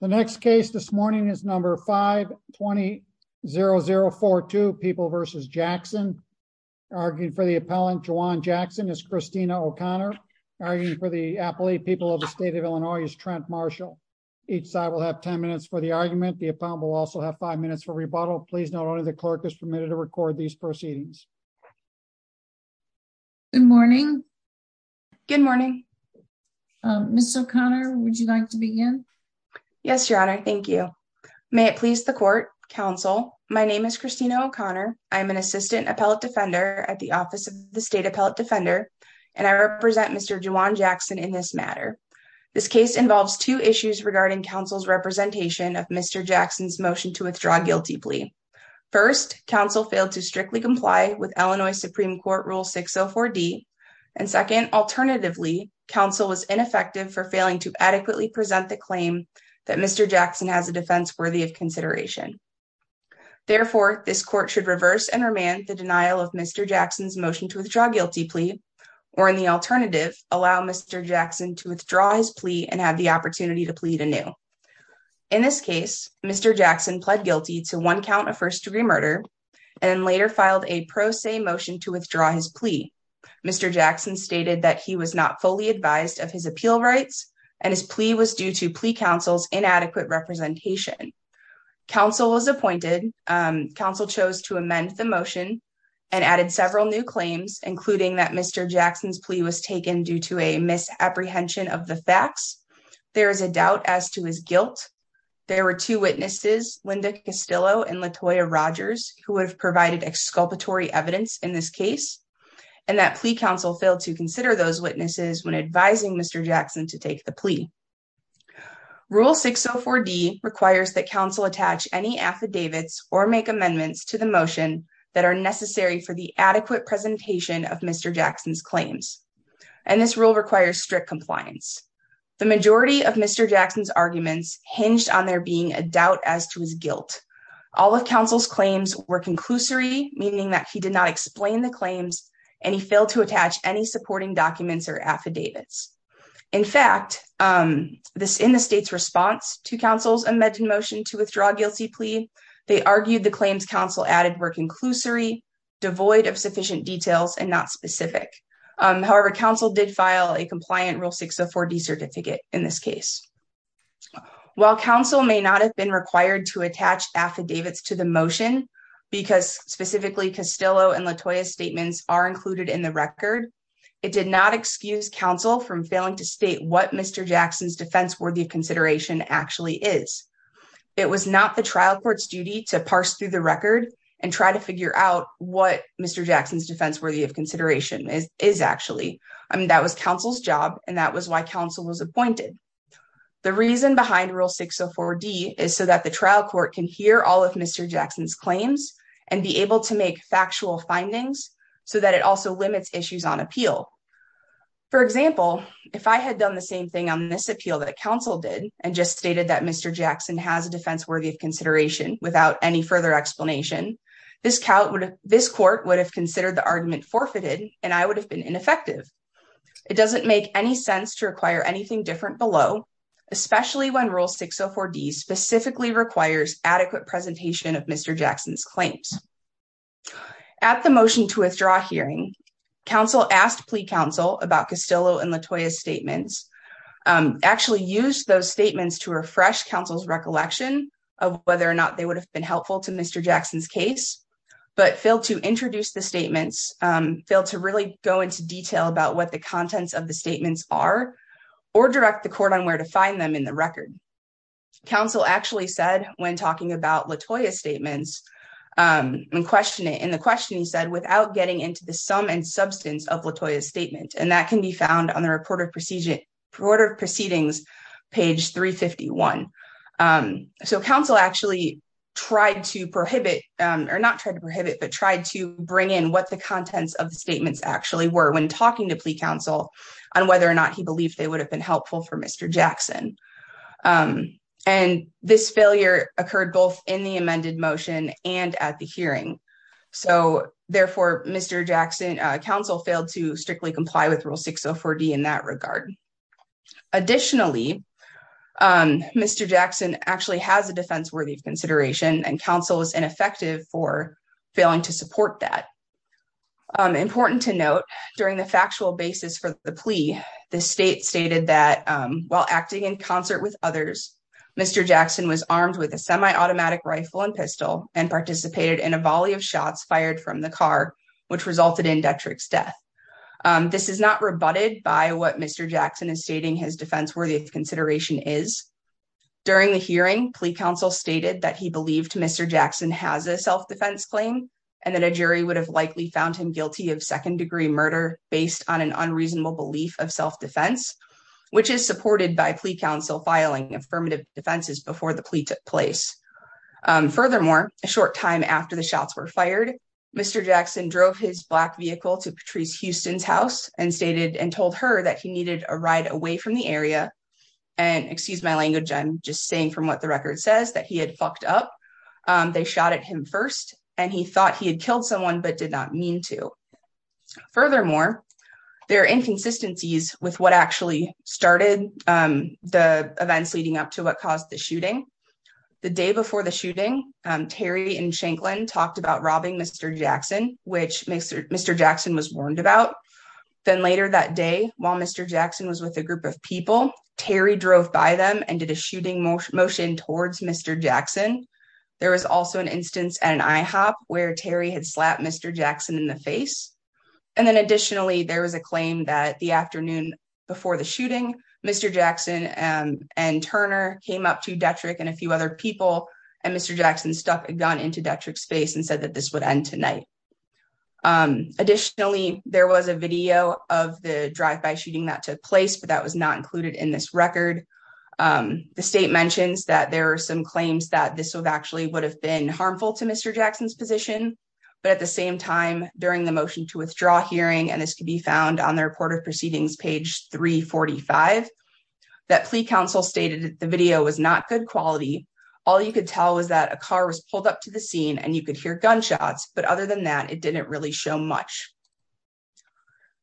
The next case this morning is number 520042, People v. Jackson. Arguing for the appellant, Juwan Jackson, is Christina O'Connor. Arguing for the appellate, People of the State of Illinois, is Trent Marshall. Each side will have ten minutes for the argument. The appellant will also have five minutes for rebuttal. Please note only the clerk is permitted to record these proceedings. Good morning. Good morning. Ms. O'Connor, would you like to begin? Yes, Your Honor. Thank you. May it please the court. Counsel, my name is Christina O'Connor. I am an assistant appellate defender at the Office of the State Appellate Defender, and I represent Mr. Juwan Jackson in this matter. This case involves two issues regarding counsel's representation of Mr. Jackson's motion to withdraw guilty plea. First, counsel failed to strictly comply with Illinois Supreme Court Rule 604D, and second, alternatively, failing to adequately present the claim that Mr. Jackson has a defense worthy of consideration. Therefore, this court should reverse and remand the denial of Mr. Jackson's motion to withdraw guilty plea, or in the alternative, allow Mr. Jackson to withdraw his plea and have the opportunity to plead anew. In this case, Mr. Jackson pled guilty to one count of first-degree murder and later filed a pro se motion to withdraw his plea. Mr. Jackson stated that he was not fully advised of his appeal rights, and his plea was due to plea counsel's inadequate representation. Counsel was appointed. Counsel chose to amend the motion and added several new claims, including that Mr. Jackson's plea was taken due to a misapprehension of the facts. There is a doubt as to his guilt. There were two witnesses, Linda Castillo and Latoya Rogers, who would have provided exculpatory evidence in this case, and that plea counsel failed to consider those witnesses when advising Mr. Jackson to take the plea. Rule 604D requires that counsel attach any affidavits or make amendments to the motion that are necessary for the adequate presentation of Mr. Jackson's claims, and this rule requires strict compliance. The majority of Mr. Jackson's arguments hinged on there being a doubt as to his guilt. All of counsel's claims were conclusory, meaning that he did not explain the claims, and he failed to attach any supporting documents or affidavits. In fact, in the state's response to counsel's amended motion to withdraw a guilty plea, they argued the claims counsel added were conclusory, devoid of sufficient details, and not specific. However, counsel did file a compliant Rule 604D certificate in this case. While counsel may not have been required to attach affidavits to the motion, because specifically Castillo and Latoya's statements are included in the record, it did not excuse counsel from failing to state what Mr. Jackson's defense worthy of consideration actually is. It was not the trial court's duty to parse through the record and try to figure out what Mr. Jackson's defense worthy of consideration is actually. I mean, that was counsel's job, and that was why counsel was appointed. The reason behind Rule 604D is so that the trial court can hear all of Mr. Jackson's claims and be able to make factual findings so that it also limits issues on appeal. For example, if I had done the same thing on this appeal that counsel did and just stated that Mr. Jackson has a defense worthy of consideration without any further explanation, this court would have considered the argument forfeited, and I would have been ineffective. It doesn't make any sense to require anything different below, especially when Rule 604D specifically requires adequate presentation of Mr. Jackson's claims. At the motion to withdraw hearing, counsel asked plea counsel about Castillo and Latoya's statements, actually used those statements to refresh counsel's recollection of whether or not they would have been helpful to Mr. Jackson's case, but failed to introduce the statements, failed to really go into detail about what the contents of the statements are, or direct the court on where to find them in the record. Counsel actually said, when talking about Latoya's statements, in the question he said, without getting into the sum and substance of Latoya's statement, and that can be found on the report of proceedings, page 351. So counsel actually tried to prohibit, or not try to prohibit, but tried to bring in what the contents of the statements actually were when talking to plea counsel on whether or not he believed they would have been helpful for Mr. Jackson. And this failure occurred both in the amended motion and at the hearing. So therefore, Mr. Jackson, counsel failed to strictly comply with Rule 604D in that regard. Additionally, Mr. Jackson actually has a defense worthy of consideration, and counsel is ineffective for failing to support that. Important to note, during the factual basis for the plea, the state stated that, while acting in concert with others, Mr. Jackson was armed with a semi-automatic rifle and pistol, and participated in a volley of shots fired from the car, which resulted in Detrick's death. This is not rebutted by what Mr. Jackson is stating his defense worthy of consideration is. During the hearing, plea counsel stated that he believed Mr. Jackson has a self-defense claim, and that a jury would have likely found him guilty of second-degree murder based on an unreasonable belief of self-defense, which is supported by plea counsel filing affirmative defenses before the plea took place. Furthermore, a short time after the shots were fired, Mr. Jackson drove his black vehicle to Patrice Houston's house and stated and told her that he needed a ride away from the area. And excuse my language, I'm just saying from what the record says that he had fucked up. They shot at him first, and he thought he had killed someone but did not mean to. Furthermore, there are inconsistencies with what actually started the events leading up to what caused the shooting. The day before the shooting, Terry and Shanklin talked about robbing Mr. Jackson, which Mr. Jackson was warned about. Then later that day, while Mr. Jackson was with a group of people, Terry drove by them and did a shooting motion towards Mr. Jackson. There was an instance at an IHOP where Terry had slapped Mr. Jackson in the face. Additionally, there was a claim that the afternoon before the shooting, Mr. Jackson and Turner came up to Detrick and a few other people, and Mr. Jackson stuck a gun into Detrick's face and said that this would end tonight. Additionally, there was a video of the drive-by shooting that took place, but that was not included in this record. The state mentions that there are some claims that this actually would have been harmful to Mr. Jackson's position, but at the same time, during the motion to withdraw hearing, and this could be found on the report of proceedings page 345, that plea counsel stated that the video was not good quality. All you could tell was that a car was pulled up to the scene and you could hear gunshots, but other than that, it didn't really show much.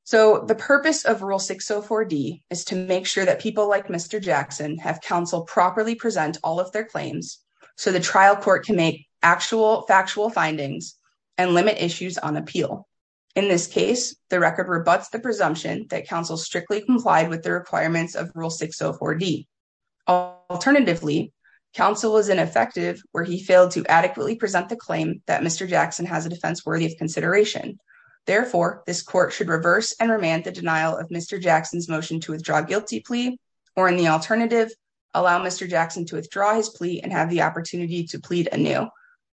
So the purpose of Rule 604D is to make sure that people like Mr. Jackson have counsel properly present all of their claims so the trial court can make actual factual findings and limit issues on appeal. In this case, the record rebuts the presumption that counsel strictly complied with the requirements of Rule 604D. Alternatively, counsel was ineffective where he failed to adequately present the claim that Mr. Jackson has a defense worthy of consideration. Therefore, this court should reverse and remand the denial of Mr. Jackson's motion to withdraw a guilty plea, or in the alternative, allow Mr. Jackson to withdraw his plea and have the opportunity to plead anew.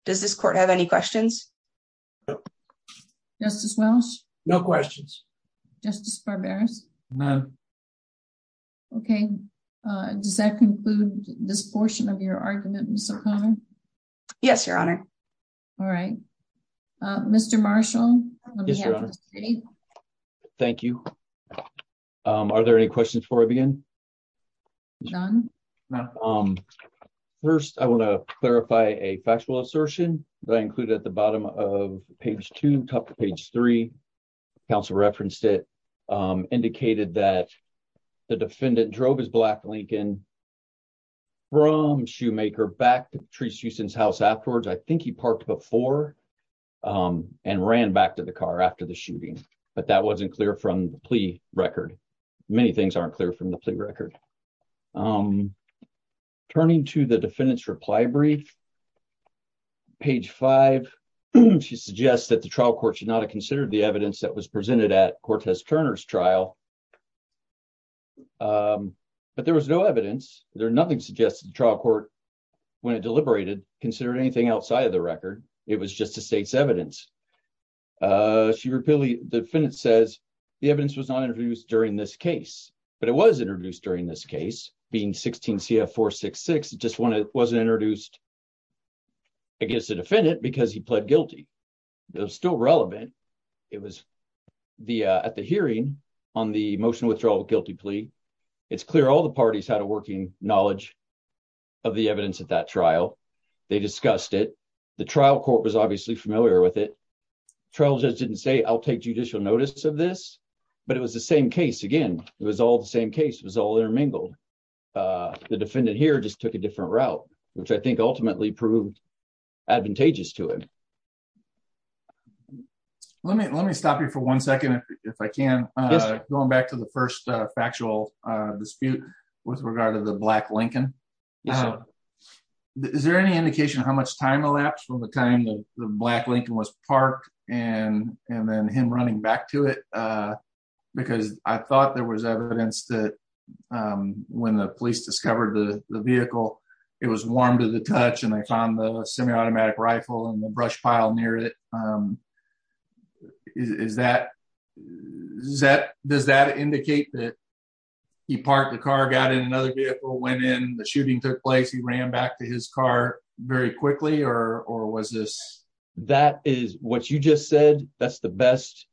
Does this court have any questions? Justice Welch? No questions. Justice Barberis? No. Okay, does that conclude this portion of your argument, Ms. O'Connor? Yes, Your Honor. All right. Mr. Marshall? Yes, Your Honor. Mr. Grady? Thank you. Are there any questions before I begin? None. First, I want to clarify a factual assertion that I included at the bottom of page two, top of page three. Counsel referenced it, indicated that the defendant drove his black Lincoln from Shoemaker back to Patrice Houston's house afterwards. I think he parked before and ran back to the car after the shooting, but that wasn't clear from the plea record. Many things aren't clear from the plea record. Turning to the defendant's reply brief, page five, she suggests that the trial court should not have considered the evidence that was presented at Cortez Turner's trial, but there was no evidence. Nothing suggested the trial court, when it deliberated, considered anything outside of the record. It was just the state's evidence. The defendant says the evidence was not introduced during this case, but it was introduced during this case, being 16 CF 466. It just wasn't introduced against the defendant because he pled guilty. It was still relevant. It was at the hearing on the motion withdrawal guilty plea. It's clear all the parties had a working knowledge of the evidence at that trial. They discussed it. The trial court was obviously familiar with it. Trial judge didn't say, I'll take judicial notice of this, but it was the same case again. It was all the same case. It was all there mingled. The defendant here just took a different route, which I think ultimately proved advantageous to him. Let me stop you for one second, if I can, going back to the first factual dispute with regard to Black Lincoln. Is there any indication of how much time elapsed from the time the Black Lincoln was parked and then him running back to it? Because I thought there was evidence that when the police discovered the vehicle, it was warm to the touch and they found the semi-automatic rifle and the brush pile near it. Does that indicate that he parked the car, got in another vehicle, went in, the shooting took place, he ran back to his car very quickly? That is what you just said. That's the best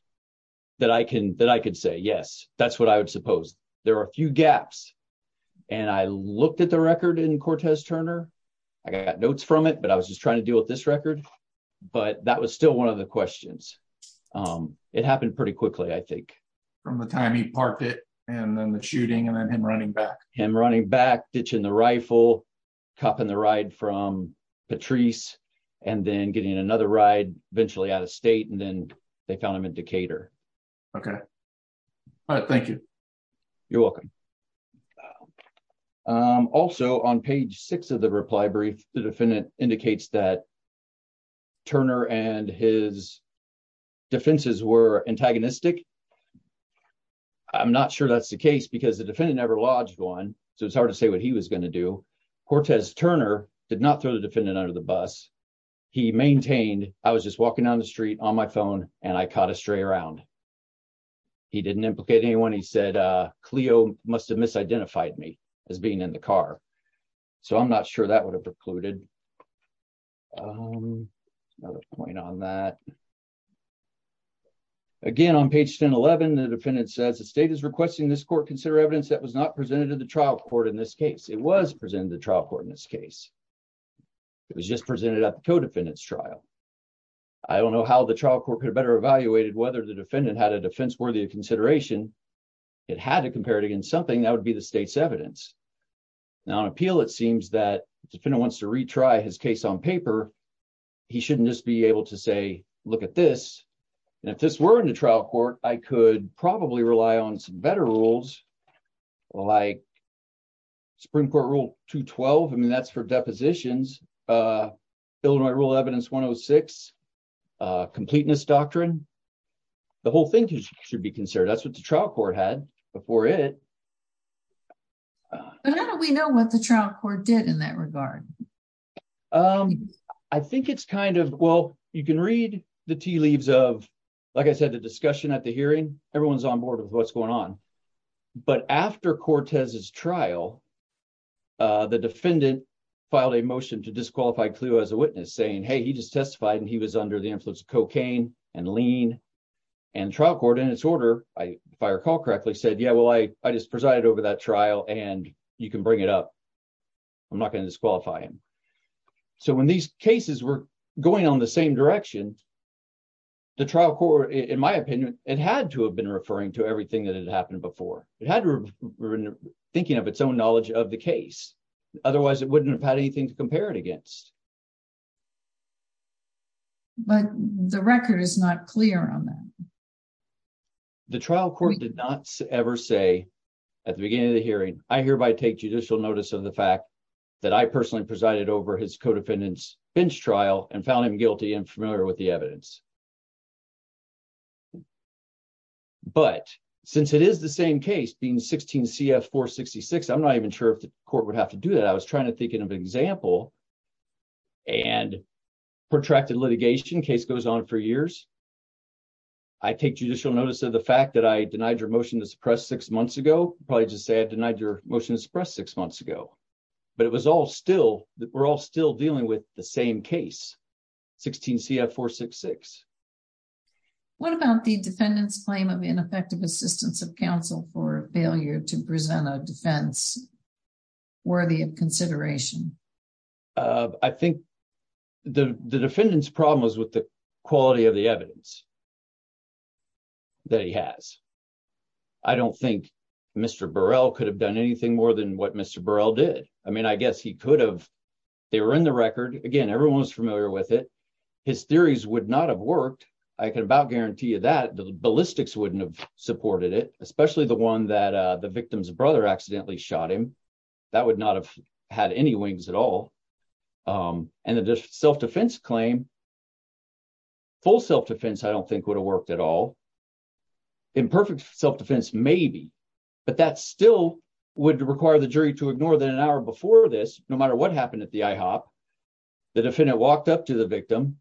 that I can say. Yes, that's what I would suppose. There are a few gaps. I looked at the record in Cortez Turner. I got notes from it, but I was just trying to deal with this record. That was still one of the questions. It happened pretty quickly, I think. From the time he parked it, and then the shooting, and then him running back. Him running back, ditching the rifle, copying the ride from Patrice, and then getting another ride eventually out of state, and then they found him in Decatur. Okay. All right, thank you. You're welcome. Also, on page six of the reply brief, the defendant indicates that Turner and his defenses were antagonistic. I'm not sure that's the case, because the defendant never lodged one, so it's hard to say what he was going to do. Cortez Turner did not throw the defendant under the bus. He maintained, I was just walking down the street on my phone and I caught a stray around. He didn't implicate anyone. He said, Cleo must have misidentified me as being in the car. I'm not sure that would have precluded. Another point on that. Again, on page 1011, the defendant says, the state is requesting this court consider evidence that was not presented to the trial court in this case. It was presented to the trial court in this case. It was just presented at the co-defendant's trial. I don't know how the trial court could have better evaluated whether the defendant had a defense worthy of consideration. It had to compare it against something that would be the state's evidence. On appeal, it seems that the defendant wants to retry his case on paper. He shouldn't just be able to say, look at this. If this were in the trial court, I could probably rely on some better rules like Supreme Court Rule 212. That's for depositions. Illinois Rule Evidence 106, Completeness Doctrine. The whole thing should be considered. That's what the trial court had before it. How do we know what the trial court did in that regard? You can read the tea leaves of, like I said, the discussion at the hearing. Everyone's on board with what's going on. After Cortez's trial, the defendant filed a motion to disqualify Cleo as a witness, saying, hey, he just testified and he was under the influence of cocaine and lean. The trial court, in its order, if I recall correctly, said, yeah, well, I just presided over that trial and you can bring it up. I'm not going to disqualify him. When these cases were going on the same direction, the trial court, in my opinion, it had to have been referring to everything that had happened before. It had to have been thinking of its own knowledge of the case. Otherwise, it wouldn't have had anything to do with it. But the record is not clear on that. The trial court did not ever say, at the beginning of the hearing, I hereby take judicial notice of the fact that I personally presided over his co-defendant's bench trial and found him guilty and familiar with the evidence. But since it is the same case, being 16 CF 466, I'm not even sure if the court would have to do that. I was trying to think of an example. And protracted litigation, case goes on for years. I take judicial notice of the fact that I denied your motion to suppress six months ago. Probably just say I denied your motion to suppress six months ago. But it was all still, we're all still dealing with the same case, 16 CF 466. What about the defendant's claim of ineffective assistance of counsel for failure to present a defense worthy of consideration? I think the defendant's problem was with the quality of the evidence that he has. I don't think Mr. Burrell could have done anything more than what Mr. Burrell did. I mean, I guess he could have. They were in the record. Again, everyone was familiar with it. His theories would not have worked. I can about guarantee you that. The ballistics wouldn't have supported it, especially the one that the victim's brother accidentally shot him. That would not have had any wings at all. And the self-defense claim, full self-defense I don't think would have worked at all. Imperfect self-defense, maybe. But that still would require the jury to ignore that an hour before this, no matter what happened at the IHOP, the defendant walked up to the victim,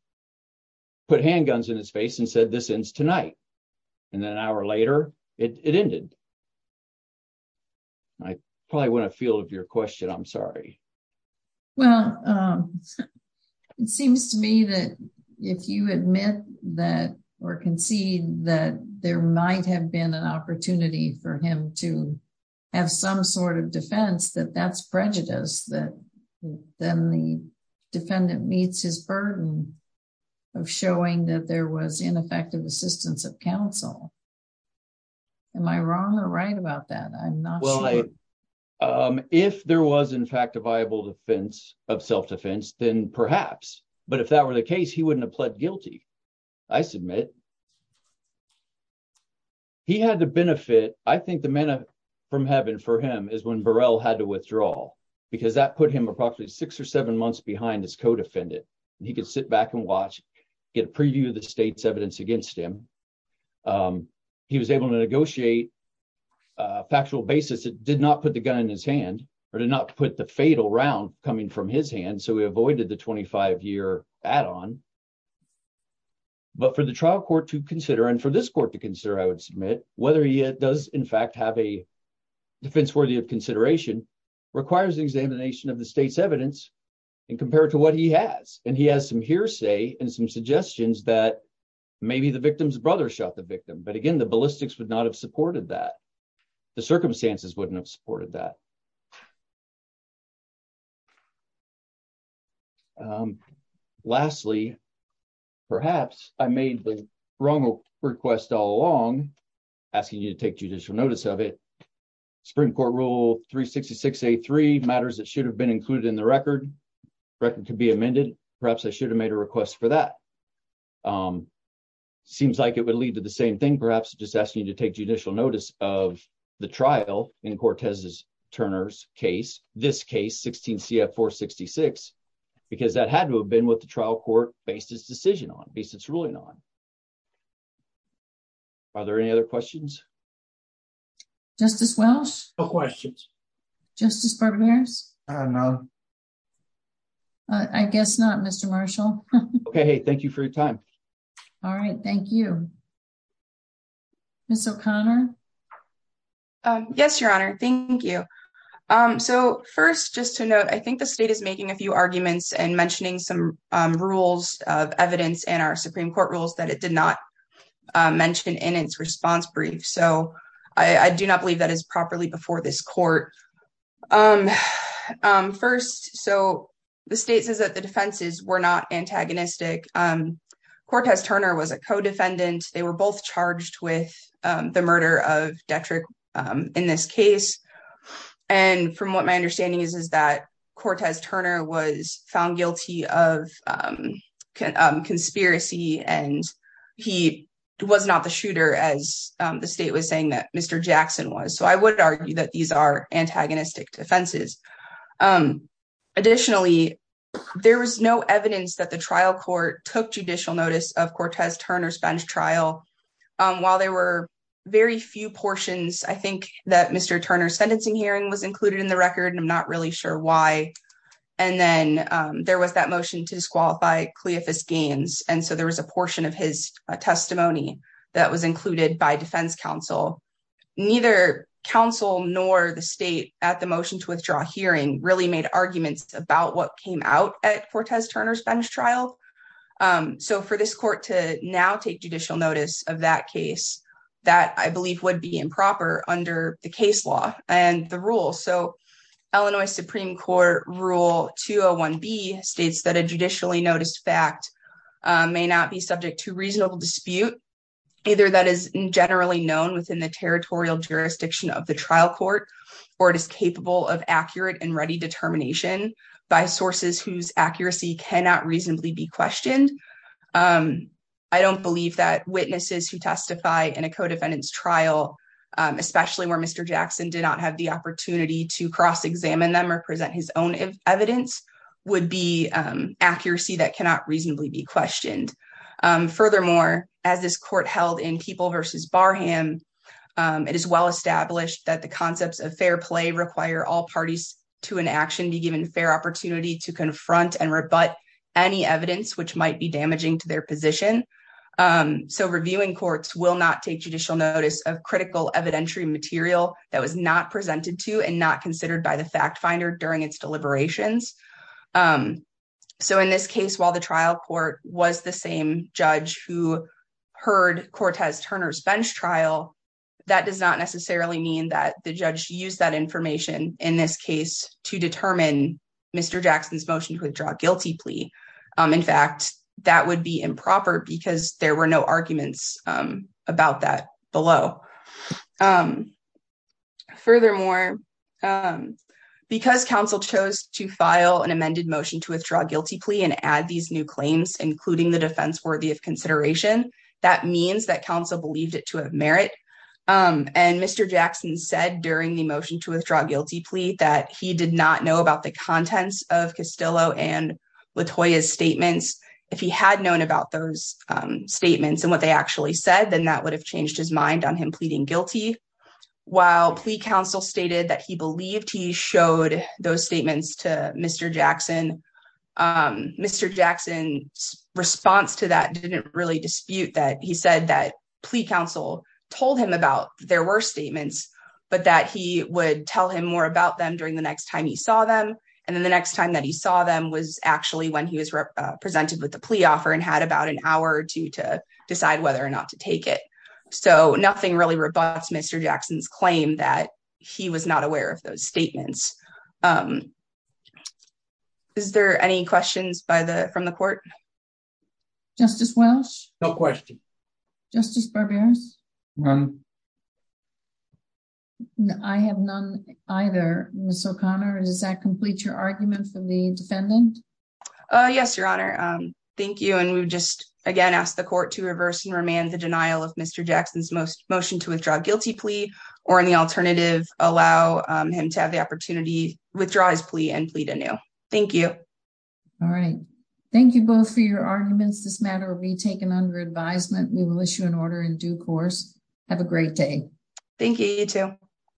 put handguns in his face and said, this ends tonight. And then an hour later, it ended. I probably went afield of your question. I'm sorry. Well, it seems to me that if you admit that or concede that there might have been an opportunity for him to have some sort of defense, that that's prejudice. Then the defendant meets his burden of showing that there was ineffective assistance of counsel. Am I wrong or right about that? I'm not sure. Well, if there was in fact a viable defense of self-defense, then perhaps. But if that were the case, he wouldn't have pled guilty. I submit. He had to benefit. I think the manna from heaven for him is when Burrell had to withdraw because that put him approximately six or seven months behind his co-defendant. He could sit back and watch, get a preview of the state's evidence against him. He was able to negotiate a factual basis that did not put the gun in his hand or did not put the fatal round coming from his hand. So we avoided the 25 year add on. But for the trial court to consider and for this court to consider, I would submit whether he does in fact have a defense worthy of consideration, requires the examination of the state's evidence and compare it to what he has. And he has some hearsay and some suggestions that maybe the victim's brother shot the victim. But again, the ballistics would not have supported that. The circumstances wouldn't have supported that. Lastly, perhaps I made the wrong request all along asking you to take judicial notice of it. Supreme court rule 366 A3 matters that should have been included in the record. Record could be amended. Perhaps I should have made a request for that. Seems like it would lead to the same thing, perhaps just asking you to take judicial notice of the trial in Cortez's Turner's case, this case 16 CF 466, because that had to been what the trial court based its decision on, based its ruling on. Are there any other questions? Justice Welch? No questions. Justice Bergmaers? I don't know. I guess not, Mr. Marshall. Okay, hey, thank you for your time. All right, thank you. Ms. O'Connor? Yes, Your Honor, thank you. So first, just to note, I think the state is making a few arguments and mentioning some rules of evidence in our Supreme Court rules that it did not mention in its response brief. So I do not believe that is properly before this court. First, so the state says that the defenses were not antagonistic. Cortez Turner was a co-defendant. They were both charged with the murder of Detrick in this case. And from what my understanding is, is that Cortez Turner was found guilty of conspiracy, and he was not the shooter, as the state was saying that Mr. Jackson was. So I would argue that these are antagonistic defenses. Additionally, there was no evidence that the trial court took judicial notice of Cortez Turner's bench trial. While there were very few portions, I think that Mr. Turner's sentencing hearing was included in the record, and I'm not really sure why. And then there was that motion to disqualify Cleophus Gaines, and so there was a portion of his testimony that was included by defense counsel. Neither counsel nor the state at the motion to withdraw hearing really made arguments about what came out at Cortez Turner's bench trial. So for this court to now take judicial notice of that case, that I believe would be improper under the case law and the rule. So Illinois Supreme Court Rule 201B states that a judicially noticed fact may not be subject to reasonable dispute, either that is generally known within the territorial jurisdiction of the trial court, or it is capable of accurate and ready determination by sources whose accuracy cannot reasonably be questioned. I don't believe that witnesses who testify in a co-defendant's trial, especially where Mr. Jackson did not have the opportunity to cross-examine them or present his own evidence, would be accuracy that cannot reasonably be questioned. Furthermore, as this court held in People v. Barham, it is well established that the concepts of fair play require all parties to in action be given fair opportunity to confront and rebut any evidence which might be damaging to their position. So reviewing courts will not take judicial notice of critical evidentiary material that was not presented to and not considered by the fact finder during its deliberations. So in this case, while the trial court was the same judge who heard Cortez-Turner's bench trial, that does not necessarily mean that the judge used that information in this case to determine Mr. Jackson's motion to withdraw guilty plea. In fact, that would be improper because there were no arguments about that below. Furthermore, because counsel chose to file an amended motion to withdraw guilty plea and add these new claims, including the defense worthy of consideration, that means that counsel believed it to have merit. And Mr. Jackson said during the motion to withdraw guilty plea that he did not know about the contents of Castillo and Latoya's statements. If he had known about those statements and what they actually said, then that would have changed his mind on him pleading guilty. While plea counsel stated that he believed he showed those statements to Mr. Jackson, Mr. Jackson's response to that didn't really dispute that he said that plea counsel told him about there were statements, but that he would tell him more about them during the next time he saw them. And then the next time that he saw them was actually when he was presented with the plea offer and had about an hour or two to decide whether or not to take it. So nothing really Mr. Jackson's claim that he was not aware of those statements. Is there any questions from the court? Justice Welch? No question. Justice Barberas? None. I have none either. Ms. O'Connor, does that complete your argument from the defendant? Yes, Your Honor. Thank you. And we just again ask the court to reverse and remand the denial of Mr. Jackson's plea to withdraw guilty plea or in the alternative allow him to have the opportunity withdraw his plea and plead anew. Thank you. All right. Thank you both for your arguments. This matter will be taken under advisement. We will issue an order in due course. Have a great day. Thank you. You too.